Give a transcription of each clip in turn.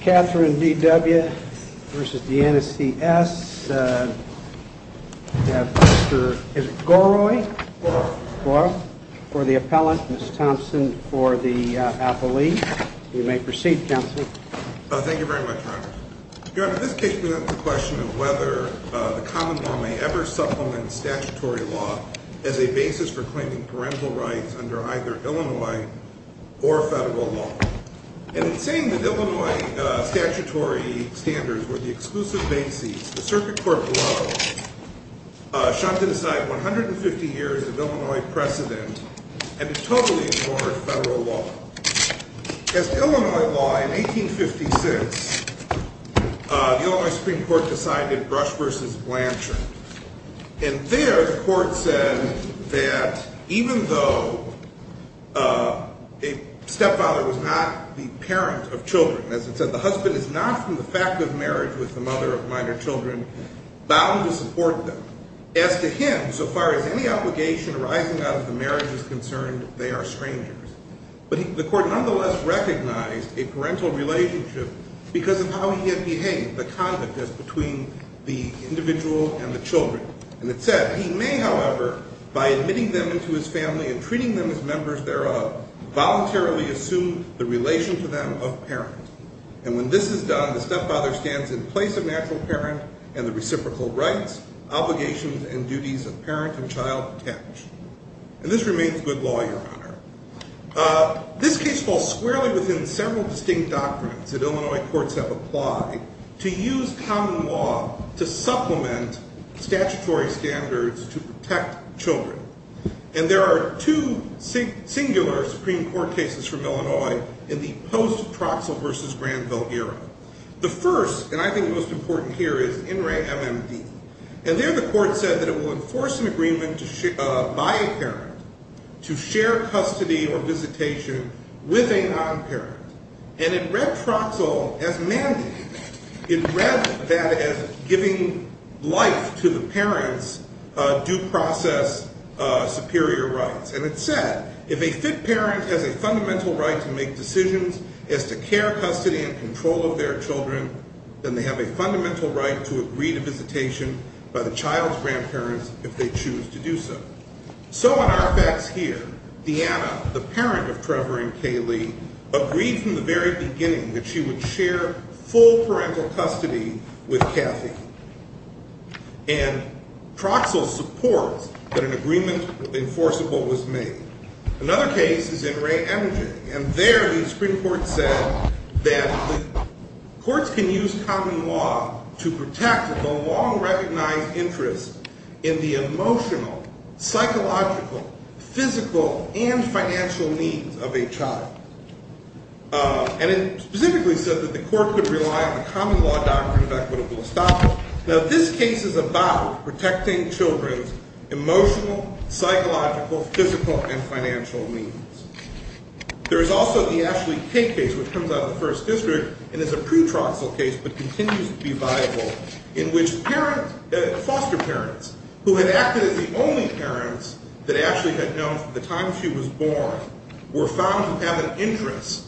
Catherine D. W. v. Deanna C. S., we have Mr. Goroy for the appellant, Ms. Thompson for the appellee. You may proceed, Counselor. Thank you very much, Your Honor. Your Honor, this case presents the question of whether the common law may ever supplement statutory law as a basis for claiming parental rights under either Illinois or federal law. And in saying that Illinois statutory standards were the exclusive basis, the circuit court below shunned to the side 150 years of Illinois precedent and totally ignored federal law. As to Illinois law, in 1856, the Illinois Supreme Court decided Brush v. Blanchard. And there the court said that even though a stepfather was not the parent of children, as it said, the husband is not from the fact of marriage with the mother of minor children bound to support them. As to him, so far as any obligation arising out of the marriage is concerned, they are strangers. But the court nonetheless recognized a parental relationship because of how he had behaved, the conduct as between the individual and the children. And it said, he may, however, by admitting them into his family and treating them as members thereof, voluntarily assume the relation to them of parent. And when this is done, the stepfather stands in place of natural parent and the reciprocal rights, obligations, and duties of parent and child attach. And this remains good law, Your Honor. This case falls squarely within several distinct doctrines that Illinois courts have applied to use common law to supplement statutory standards to protect children. And there are two singular Supreme Court cases from Illinois in the post-Troxell v. Granville era. The first, and I think the most important here, is In re MMD. And there the court said that it will enforce an agreement by a parent to share custody or visitation with a non-parent. And it read Troxell as mandating. It read that as giving life to the parent's due process superior rights. And it said, if a fit parent has a fundamental right to make decisions as to care, custody, and control of their children, then they have a fundamental right to agree to visitation by the child's grandparents if they choose to do so. So on our facts here, Deanna, the parent of Trevor and Kaylee, agreed from the very beginning that she would share full parental custody with Kathy. And Troxell supports that an agreement was enforceable was made. Another case is in re MMD. And there the Supreme Court said that courts can use common law to protect the long-recognized interest in the emotional, psychological, physical, and financial needs of a child. And it specifically said that the court could rely on the common law doctrine of equitable establishment. Now, this case is about protecting children's emotional, psychological, physical, and financial needs. There is also the Ashley Kay case, which comes out of the First District. And it's a pre-Troxell case, but continues to be viable, in which foster parents, who had acted as the only parents that Ashley had known from the time she was born, were found to have an interest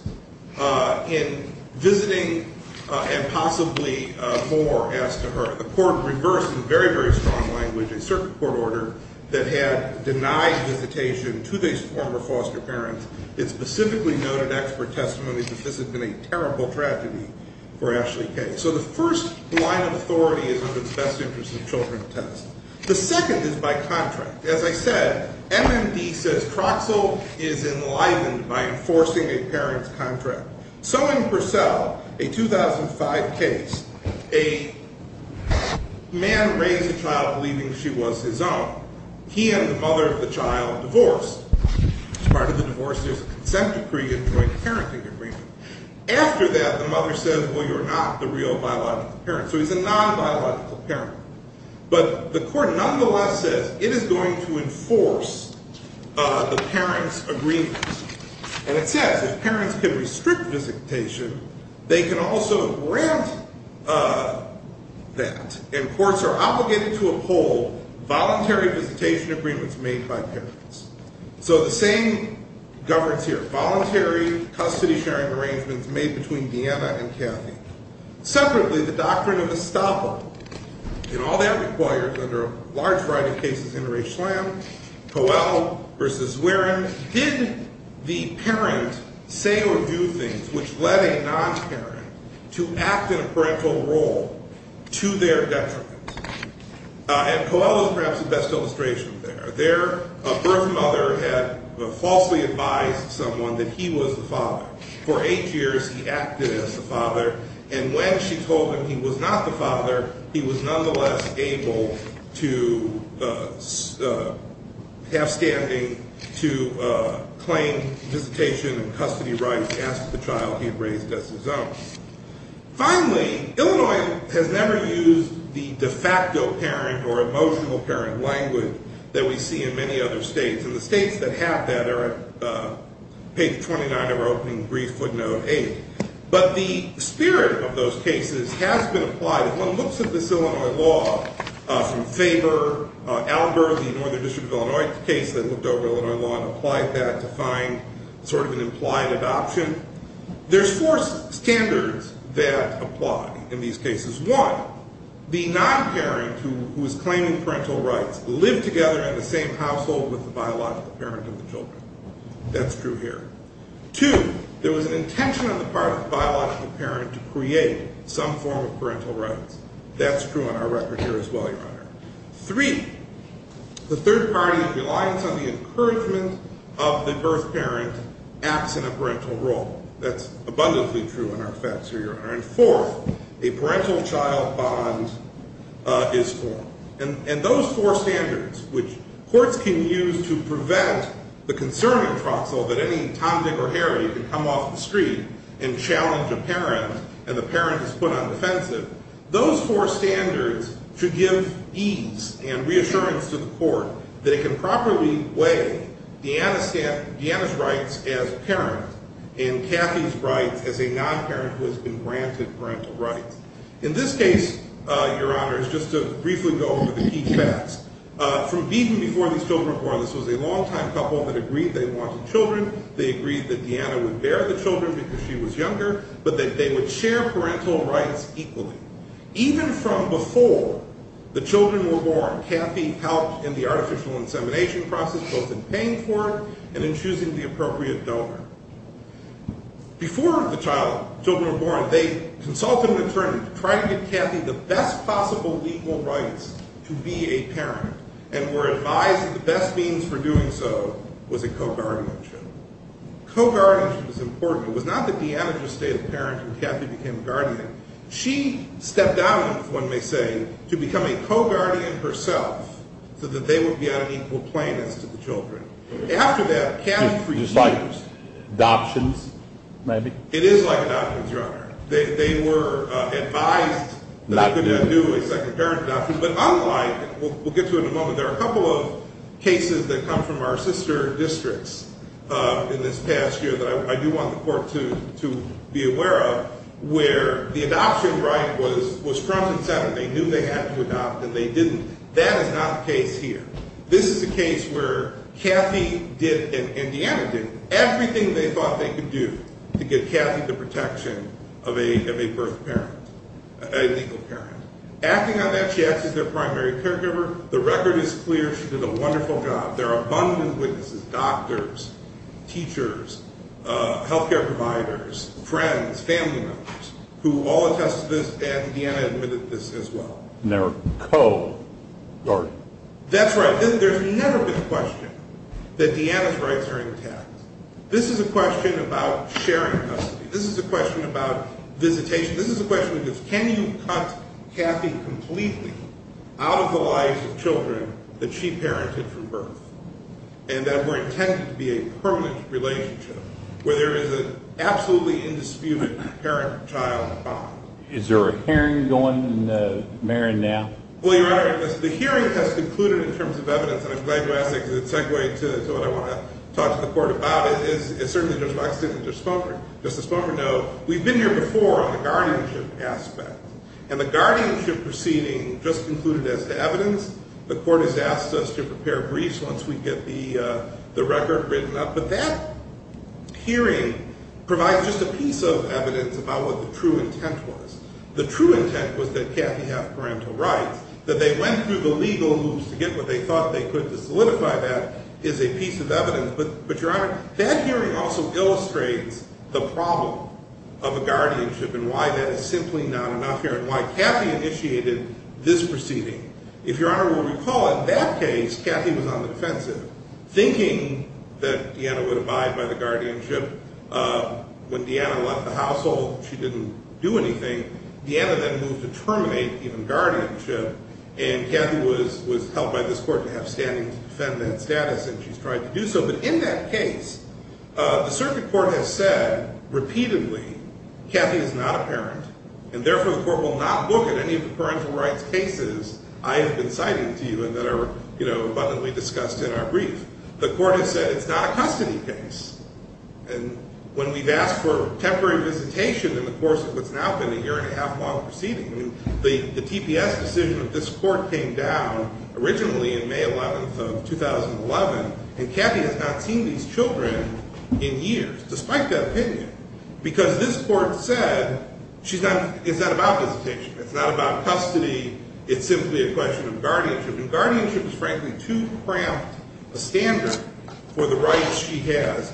in visiting and possibly more as to her. The court reversed, in very, very strong language, a circuit court order that had denied visitation to these former foster parents. It specifically noted expert testimony that this had been a terrible tragedy for Ashley Kay. So the first line of authority is of its best interest in children's tests. The second is by contract. As I said, MMD says Troxell is enlivened by enforcing a parent's contract. So in Purcell, a 2005 case, a man raised a child believing she was his own. He and the mother of the child divorced. As part of the divorce, there's a consent decree and joint parenting agreement. After that, the mother says, well, you're not the real biological parent. So he's a non-biological parent. But the court nonetheless says it is going to enforce the parent's agreement. And it says if parents can restrict visitation, they can also grant that. And courts are obligated to uphold voluntary visitation agreements made by parents. So the same governs here. Voluntary custody-sharing arrangements made between Deanna and Kathy. Separately, the doctrine of estoppel. And all that requires, under a large variety of cases, inter-age slam. Coel versus Zwerin. Did the parent say or do things which led a non-parent to act in a parental role to their detriment? And Coel is perhaps the best illustration there. Their birth mother had falsely advised someone that he was the father. For eight years, he acted as the father. And when she told him he was not the father, he was nonetheless able to have standing to claim visitation and custody rights as to the child he had raised as his own. Finally, Illinois has never used the de facto parent or emotional parent language that we see in many other states. And the states that have that are page 29 of our opening brief, footnote 8. But the spirit of those cases has been applied. If one looks at this Illinois law from Faber, Albert, the Northern District of Illinois case that looked over Illinois law and applied that to find sort of an implied adoption, there's four standards that apply in these cases. One, the non-parent who is claiming parental rights lived together in the same household with the biological parent of the children. That's true here. Two, there was an intention on the part of the biological parent to create some form of parental rights. That's true on our record here as well, Your Honor. Three, the third party's reliance on the encouragement of the birth parent acts in a parental role. That's abundantly true on our facts here, Your Honor. And fourth, a parental child bond is formed. And those four standards, which courts can use to prevent the concern in Troxel that any Tom, Dick, or Harry can come off the street and challenge a parent and the parent is put on defensive, those four standards should give ease and reassurance to the court that it can properly weigh Deanna's rights as a parent and Kathy's rights as a non-parent who has been granted parental rights. In this case, Your Honor, just to briefly go over the key facts, from even before these children were born, this was a longtime couple that agreed they wanted children. They agreed that Deanna would bear the children because she was younger, but that they would share parental rights equally. Even from before the children were born, Kathy helped in the artificial insemination process, both in paying for it and in choosing the appropriate donor. Before the children were born, they consulted an attorney to try to get Kathy the best possible legal rights to be a parent and were advised that the best means for doing so was a co-guardianship. Co-guardianship was important. It was not that Deanna just stayed a parent and Kathy became a guardian. She stepped down, if one may say, to become a co-guardian herself so that they would be on an equal plane as to the children. After that, Kathy refused. Just like adoptions, maybe? It is like adoptions, Your Honor. They were advised that they couldn't do a second parent adoption. But unlike, we'll get to it in a moment, there are a couple of cases that come from our sister districts in this past year that I do want the court to be aware of, where the adoption right was Trump's incentive. They knew they had to adopt, and they didn't. That is not the case here. This is a case where Kathy did, and Deanna did, everything they thought they could do to get Kathy the protection of a legal parent. Acting on that, she acted as their primary caregiver. The record is clear. She did a wonderful job. There are abundant witnesses, doctors, teachers, health care providers, friends, family members, who all attested to this, and Deanna admitted to this as well. And they were co-guardians. That's right. There's never been a question that Deanna's rights are intact. This is a question about sharing custody. This is a question about visitation. This is a question that is, can you cut Kathy completely out of the lives of children that she parented from birth, and that were intended to be a permanent relationship, where there is an absolutely indisputable parent-child bond? Is there a hearing going in Marion now? Well, Your Honor, the hearing has concluded in terms of evidence, and I'm glad you asked that because it's a segue to what I want to talk to the court about. It's certainly Judge Boxley and Judge Sponger. Justice Sponger, no, we've been here before on the guardianship aspect, and the guardianship proceeding just concluded as to evidence. The court has asked us to prepare briefs once we get the record written up, but that hearing provides just a piece of evidence about what the true intent was. The true intent was that Kathy have parental rights, that they went through the legal loops to get what they thought they could to solidify that is a piece of evidence. But, Your Honor, that hearing also illustrates the problem of a guardianship and why that is simply not enough here and why Kathy initiated this proceeding. If Your Honor will recall, in that case, Kathy was on the defensive, thinking that Deanna would abide by the guardianship. When Deanna left the household, she didn't do anything. Deanna then moved to terminate even guardianship, and Kathy was helped by this court to have standing to defend that status, and she's tried to do so. But in that case, the circuit court has said repeatedly, Kathy is not a parent, and therefore the court will not book at any of the parental rights cases I have been citing to you and that are, you know, abundantly discussed in our brief. The court has said it's not a custody case. And when we've asked for temporary visitation in the course of what's now been a year and a half long proceeding, the TPS decision of this court came down originally in May 11th of 2011, and Kathy has not seen these children in years, despite that opinion, because this court said she's not, it's not about visitation, it's not about custody, it's simply a question of guardianship. And guardianship is frankly too cramped a standard for the rights she has.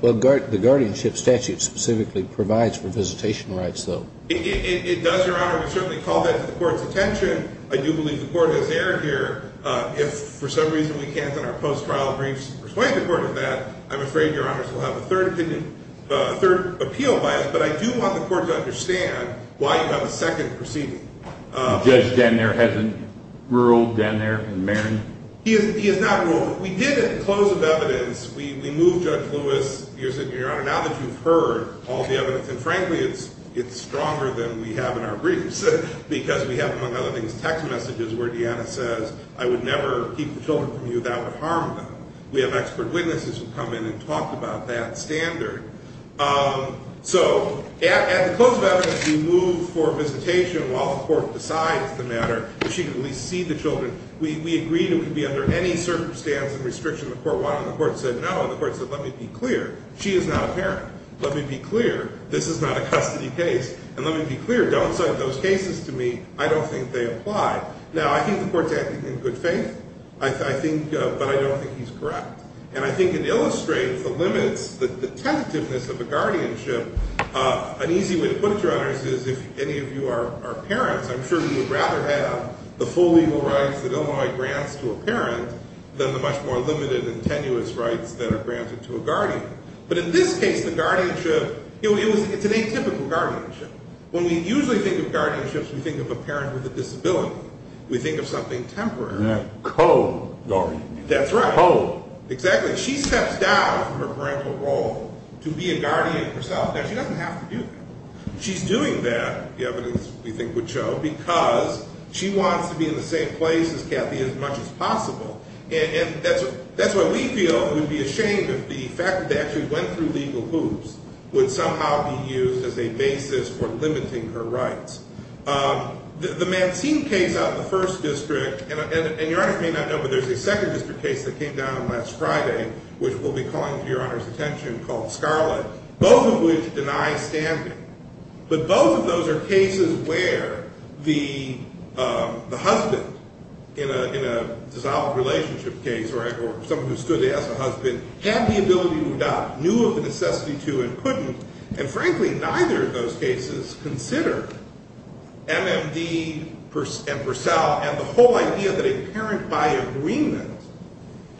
Well, the guardianship statute specifically provides for visitation rights, though. It does, Your Honor. We certainly call that to the court's attention. I do believe the court has erred here. If for some reason we can't in our post-trial briefs persuade the court of that, I'm afraid Your Honors will have a third opinion, a third appeal by us. But I do want the court to understand why you have a second proceeding. The judge down there hasn't ruled down there in Marin? He has not ruled. So what we did at the close of evidence, we moved Judge Lewis, you're sitting here, Your Honor, now that you've heard all the evidence, and frankly it's stronger than we have in our briefs, because we have among other things text messages where Deanna says, I would never keep the children from you. That would harm them. We have expert witnesses who come in and talk about that standard. So at the close of evidence, we moved for visitation while the court decides the matter, that she could at least see the children. We agreed it would be under any circumstance and restriction the court wanted, and the court said no, and the court said, let me be clear, she is not a parent. Let me be clear, this is not a custody case, and let me be clear, don't cite those cases to me. I don't think they apply. Now, I think the court's acting in good faith, but I don't think he's correct. And I think it illustrates the limits, the tentativeness of a guardianship. An easy way to put it, Your Honors, is if any of you are parents, I'm sure you would rather have the full legal rights that Illinois grants to a parent than the much more limited and tenuous rights that are granted to a guardian. But in this case, the guardianship, it's an atypical guardianship. When we usually think of guardianships, we think of a parent with a disability. We think of something temporary. A co-guardian. That's right. A co-guardian. Exactly. She steps down from her parental role to be a guardian herself. Now, she doesn't have to do that. She's doing that, the evidence we think would show, because she wants to be in the same place as Kathy as much as possible. And that's why we feel it would be a shame if the fact that they actually went through legal hoops would somehow be used as a basis for limiting her rights. The Mancine case out in the first district, and Your Honors may not know, but there's a second district case that came down last Friday, which we'll be calling to Your Honors' attention, called Scarlett, both of which deny standing. But both of those are cases where the husband, in a dissolved relationship case, or someone who stood as a husband, had the ability to adopt, knew of the necessity to and couldn't, and frankly neither of those cases consider MMD and Purcell and the whole idea that a parent, by agreement,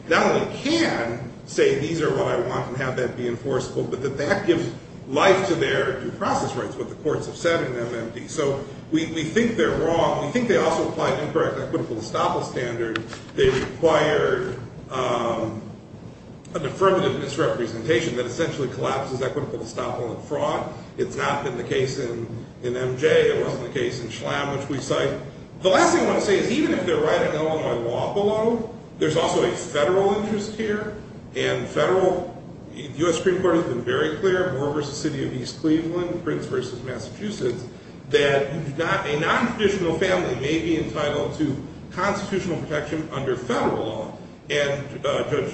not only can say these are what I want and have that be enforceable, but that that gives life to their due process rights, what the courts have said in MMD. So we think they're wrong. We think they also apply an incorrect equitable estoppel standard. They require a deferment of misrepresentation that essentially collapses equitable estoppel and fraud. It's not been the case in MJ. It wasn't the case in Schlamm, which we cite. The last thing I want to say is even if they're writing Illinois law below, there's also a federal interest here, and federal, the U.S. Supreme Court has been very clear, Moore v. City of East Cleveland, Prince v. Massachusetts, that a non-traditional family may be entitled to constitutional protection under federal law. And Judge,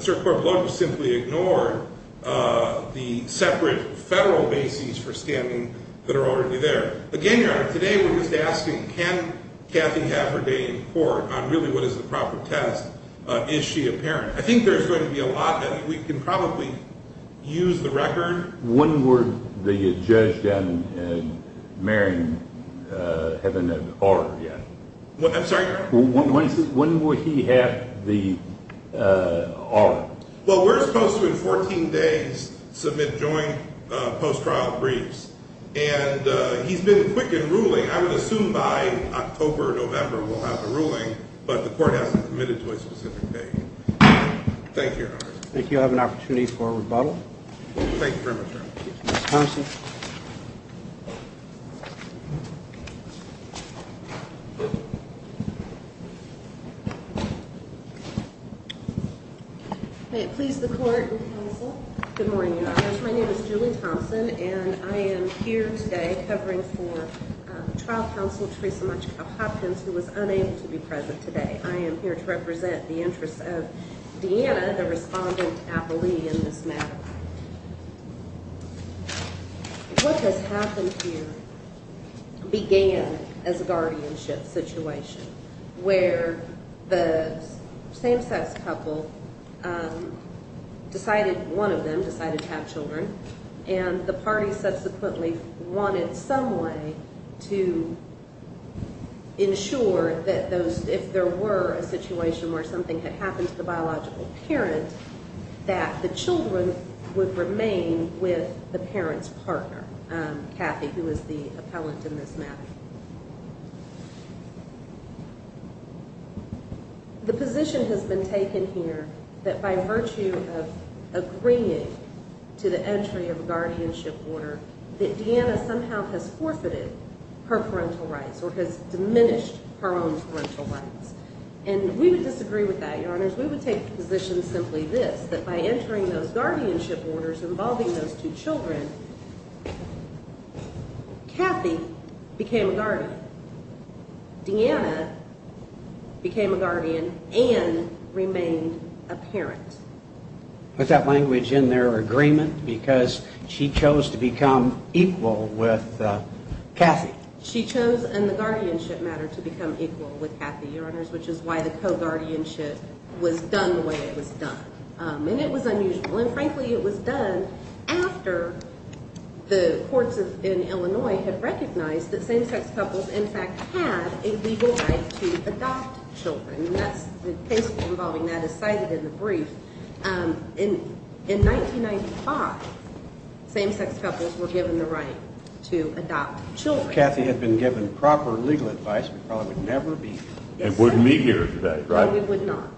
Sir Clark Blount has simply ignored the separate federal bases for standing that are already there. Again, Your Honor, today we're just asking, can Cathy have her day in court on really what is the proper test? Is she a parent? I think there's going to be a lot that we can probably use the record. When would the judge down in Marion have an R yet? I'm sorry? When would he have the R? Well, we're supposed to, in 14 days, submit joint post-trial briefs. And he's been quick in ruling. I would assume by October or November we'll have the ruling, but the court hasn't committed to a specific date. Thank you, Your Honor. Thank you. I have an opportunity for a rebuttal. Thank you very much, Your Honor. Ms. Thompson? Thank you, Judge. My name is Julie Thompson, and I am here today covering for trial counsel Theresa Mutchko Hopkins, who was unable to be present today. I am here to represent the interests of Deanna, the respondent appellee in this matter. What has happened here began as a guardianship situation, where the same-sex couple decided, one of them decided to have children, and the party subsequently wanted some way to ensure that those, if there were a situation where something had happened to the biological parent, that the children would remain with the parent's partner, Kathy, who is the appellant in this matter. The position has been taken here that by virtue of agreeing to the entry of a guardianship order, that Deanna somehow has forfeited her parental rights or has diminished her own parental rights. And we would disagree with that, Your Honors. We would take the position simply this, that by entering those guardianship orders involving those two children, Kathy became a guardian, Deanna became a guardian, and remained a parent. Put that language in there, agreement, because she chose to become equal with Kathy. She chose in the guardianship matter to become equal with Kathy, Your Honors, which is why the co-guardianship was done the way it was done. And it was unusual. And, frankly, it was done after the courts in Illinois had recognized that same-sex couples, in fact, had a legal right to adopt children, and the case involving that is cited in the brief. In 1995, same-sex couples were given the right to adopt children. If Kathy had been given proper legal advice, we probably would never be here. And wouldn't be here today, right? No, we would not.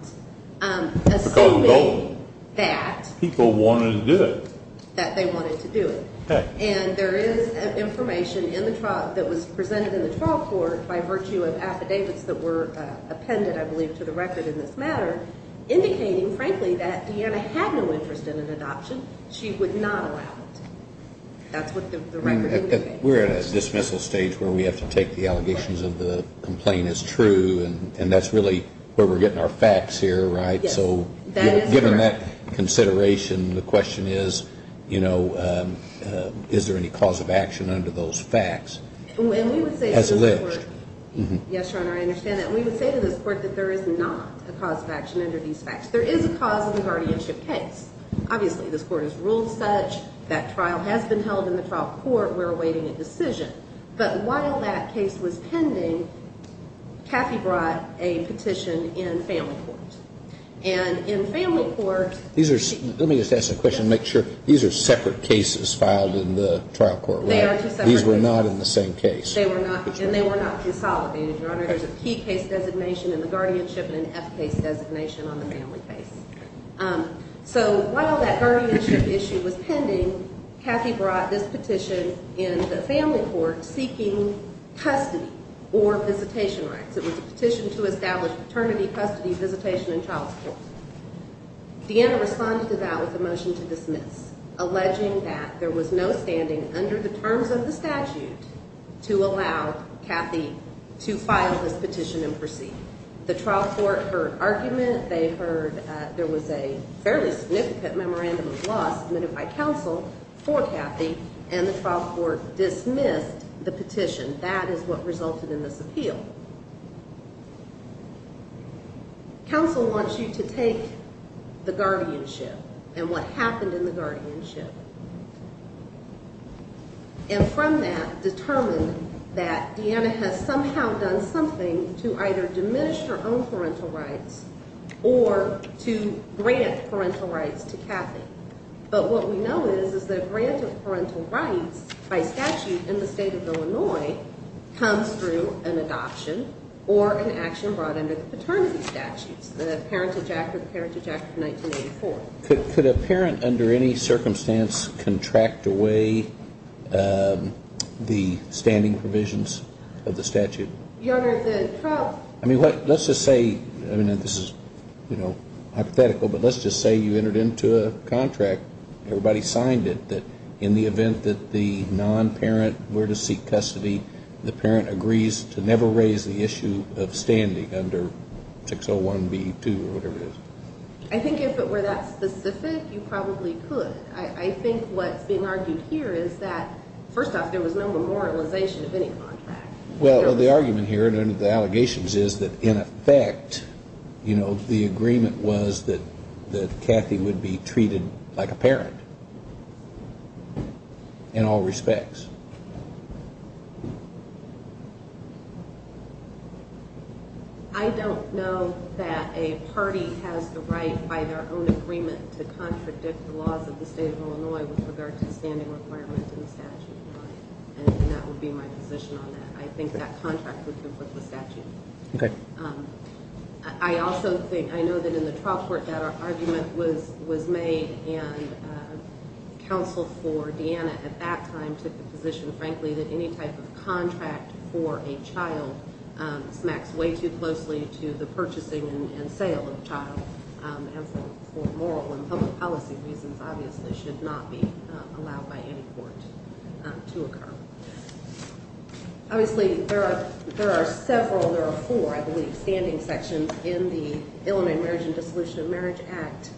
Assuming that people wanted to do it. That they wanted to do it. Okay. And there is information in the trial that was presented in the trial court by virtue of affidavits that were appended, I believe, to the record in this matter indicating, frankly, that Deanna had no interest in an adoption. She would not allow it. That's what the record indicates. We're at a dismissal stage where we have to take the allegations of the complaint as true, and that's really where we're getting our facts here, right? So given that consideration, the question is, you know, is there any cause of action under those facts? As alleged. Yes, Your Honor, I understand that. And we would say to this court that there is not a cause of action under these facts. There is a cause in the guardianship case. Obviously, this court has ruled such. That trial has been held in the trial court. We're awaiting a decision. But while that case was pending, Kathy brought a petition in family court. And in family court. Let me just ask a question to make sure. These are separate cases filed in the trial court, right? They are two separate cases. These were not in the same case. They were not. And they were not consolidated, Your Honor. There's a P case designation in the guardianship and an F case designation on the family case. So while that guardianship issue was pending, Kathy brought this petition in the family court seeking custody or visitation rights. It was a petition to establish paternity custody visitation in child support. Deanna responded to that with a motion to dismiss, alleging that there was no standing under the terms of the statute to allow Kathy to file this petition and proceed. The trial court heard argument. They heard there was a fairly significant memorandum of law submitted by counsel for Kathy. And the trial court dismissed the petition. That is what resulted in this appeal. Counsel wants you to take the guardianship and what happened in the guardianship. And from that determined that Deanna has somehow done something to either diminish her own parental rights or to grant parental rights to Kathy. But what we know is, is that a grant of parental rights by statute in the state of Illinois comes through an adoption or an action brought under the paternity statutes, the Parent Ejection of 1984. Could a parent under any circumstance contract away the standing provisions of the statute? I mean, let's just say, I mean, this is, you know, hypothetical, but let's just say you entered into a contract. Everybody signed it that in the event that the non-parent were to seek custody, the parent agrees to never raise the issue of standing under 601B2 or whatever it is. I think if it were that specific, you probably could. I think what's being argued here is that, first off, there was no memorialization of any contract. Well, the argument here under the allegations is that in effect, you know, the agreement was that Kathy would be treated like a parent in all respects. I don't know that a party has the right by their own agreement to contradict the laws of the state of Illinois with regard to the standing requirements in the statute. And that would be my position on that. I think that contract would conflict with statute. Okay. I also think, I know that in the trial court that argument was made, and counsel for Deanna at that time took the position, frankly, that any type of contract for a child smacks way too closely to the purchasing and sale of the child. And for moral and public policy reasons, obviously, should not be allowed by any court to occur. Obviously, there are several, there are four, I believe, standing sections in the Illinois Marriage and Dissolution of Marriage Act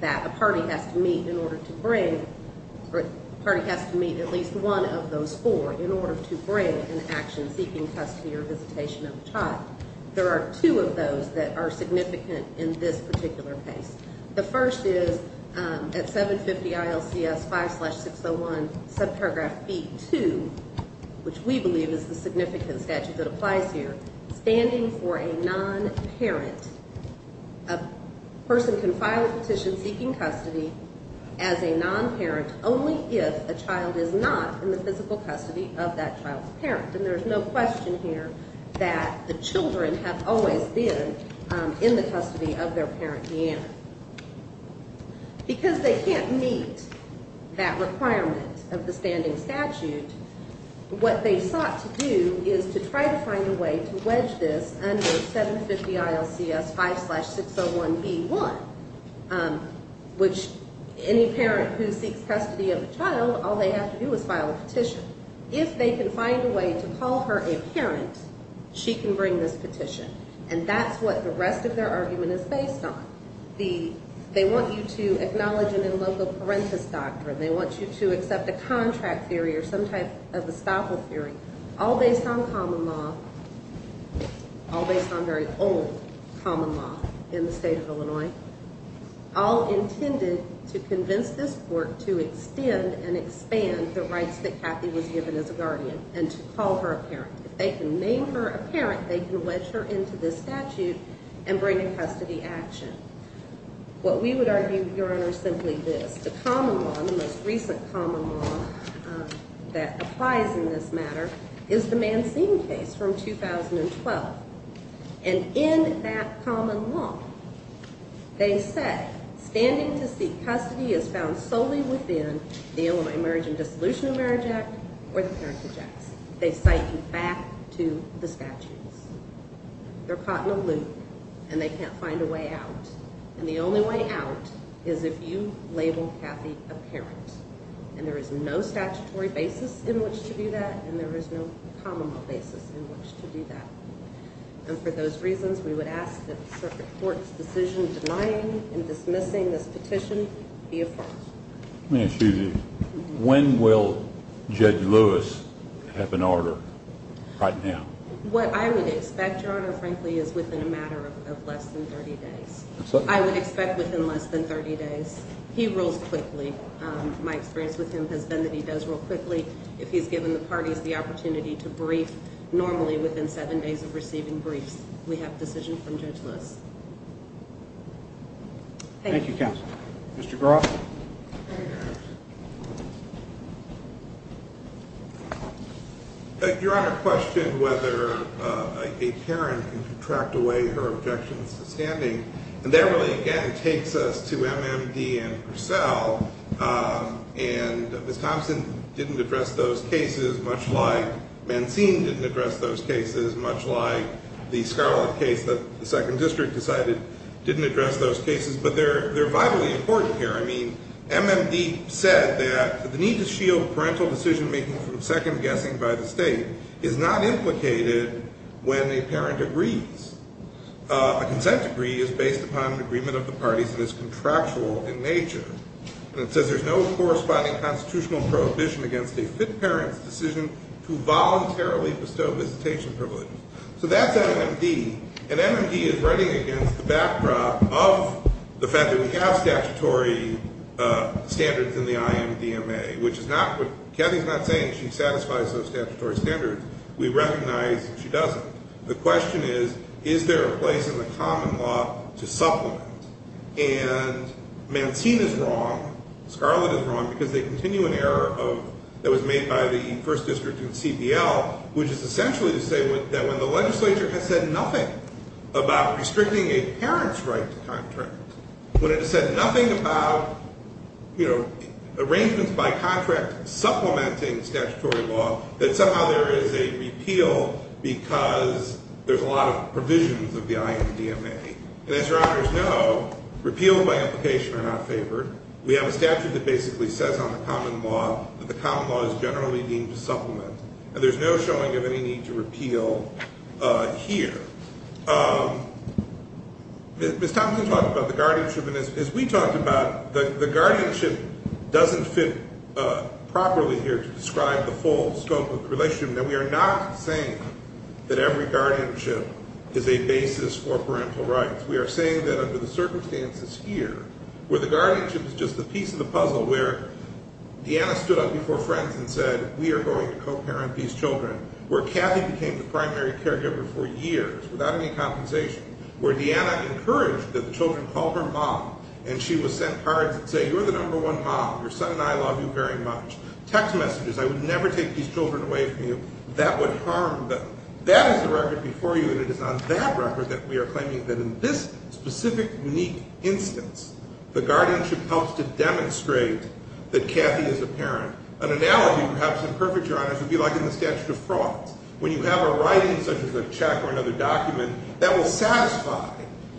that a party has to meet in order to bring, or a party has to meet at least one of those four in order to bring an action seeking custody or visitation of a child. There are two of those that are significant in this particular case. The first is at 750 ILCS 5-601, subparagraph B-2, which we believe is the significant statute that applies here, standing for a non-parent, a person can file a petition seeking custody as a non-parent only if a child is not in the physical custody of that child's parent. And there's no question here that the children have always been in the custody of their parent, Deanna. Because they can't meet that requirement of the standing statute, what they sought to do is to try to find a way to wedge this under 750 ILCS 5-601 E-1, which any parent who seeks custody of a child, all they have to do is file a petition. If they can find a way to call her a parent, she can bring this petition. And that's what the rest of their argument is based on. They want you to acknowledge an in loco parentis doctrine, they want you to accept a contract theory or some type of estoppel theory, all based on common law, all based on very old common law in the state of Illinois, all intended to convince this court to extend and expand the rights that Kathy was given as a guardian and to call her a parent. If they can name her a parent, they can wedge her into this statute and bring a custody action. What we would argue, Your Honor, is simply this. The common law, the most recent common law that applies in this matter, is the Mancine case from 2012. And in that common law, they say standing to seek custody is found solely within the Illinois Marriage and Dissolution of Marriage Act or the Parent to Jackson. They cite you back to the statutes. They're caught in a loop, and they can't find a way out. And the only way out is if you label Kathy a parent. And there is no statutory basis in which to do that, and there is no common law basis in which to do that. And for those reasons, we would ask that the circuit court's decision denying and dismissing this petition be affirmed. Excuse me. When will Judge Lewis have an order right now? What I would expect, Your Honor, frankly, is within a matter of less than 30 days. I would expect within less than 30 days. He rules quickly. My experience with him has been that he does rule quickly. If he's given the parties the opportunity to brief normally within seven days of receiving briefs, we have a decision from Judge Lewis. Thank you. Thank you, counsel. Mr. Groff. Your Honor, I question whether a parent can contract away her objections to standing. And that really, again, takes us to MMD and Purcell. And Ms. Thompson didn't address those cases, much like Mancine didn't address those cases, much like the Scarlet case that the Second District decided didn't address those cases. But they're vitally important here. I mean, MMD said that the need to shield parental decision-making from second-guessing by the state is not implicated when a parent agrees. A consent decree is based upon an agreement of the parties and is contractual in nature. And it says there's no corresponding constitutional prohibition against a fit parent's decision to voluntarily bestow visitation privileges. So that's MMD. And MMD is running against the backdrop of the fact that we have statutory standards in the IMDMA, which is not what – Kathy's not saying she satisfies those statutory standards. We recognize she doesn't. The question is, is there a place in the common law to supplement? And Mancine is wrong. Scarlet is wrong because they continue an error of – that was made by the First District and CBL, which is essentially to say that when the legislature has said nothing about restricting a parent's right to contract, when it has said nothing about, you know, arrangements by contract supplementing statutory law, that somehow there is a repeal because there's a lot of provisions of the IMDMA. And as Your Honors know, repeals by implication are not favored. We have a statute that basically says on the common law that the common law is generally deemed to supplement. And there's no showing of any need to repeal here. Ms. Thompson talked about the guardianship. And as we talked about, the guardianship doesn't fit properly here to describe the full scope of the relationship. And we are not saying that every guardianship is a basis for parental rights. We are saying that under the circumstances here, where the guardianship is just a piece of the puzzle, where Deanna stood up before friends and said, we are going to co-parent these children, where Kathy became the primary caregiver for years without any compensation, where Deanna encouraged that the children call her mom, and she was sent cards that say, you're the number one mom, your son and I love you very much. Text messages, I would never take these children away from you, that would harm them. That is the record before you, and it is on that record that we are claiming that in this specific unique instance, an analogy perhaps imperfect, Your Honors, would be like in the statute of frauds. When you have a writing such as a check or another document, that will satisfy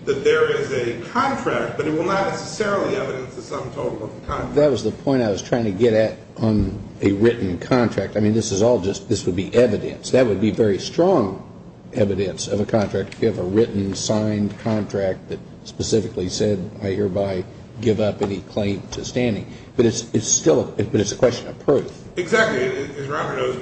that there is a contract, but it will not necessarily evidence the sum total of the contract. That was the point I was trying to get at on a written contract. I mean, this is all just this would be evidence. That would be very strong evidence of a contract. If you have a written, signed contract that specifically said, I hereby give up any claim to standing. But it's still a question of proof. Exactly. As Robert knows,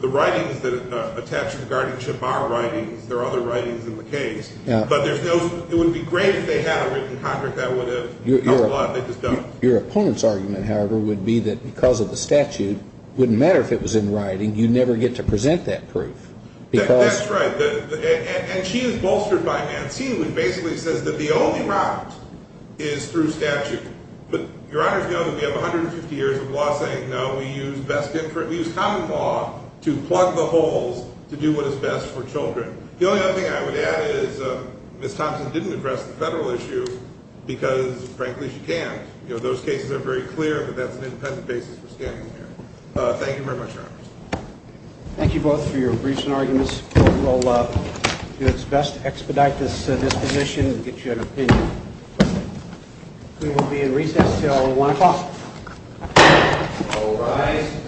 the writings that attach to the guardianship are writings. There are other writings in the case. But it would be great if they had a written contract that would have helped a lot. They just don't. Your opponent's argument, however, would be that because of the statute, it wouldn't matter if it was in writing, you'd never get to present that proof. That's right. And she is bolstered by Mancini, who basically says that the only route is through statute. But Your Honors know that we have 150 years of law saying, no, we use common law to plug the holes to do what is best for children. The only other thing I would add is Ms. Thompson didn't address the federal issue because, frankly, she can't. Those cases are very clear that that's an independent basis for standing here. Thank you very much, Your Honors. Thank you both for your briefs and arguments. We'll do our best to expedite this position and get you an opinion. We will be in recess until 1 o'clock. All rise. Thank you.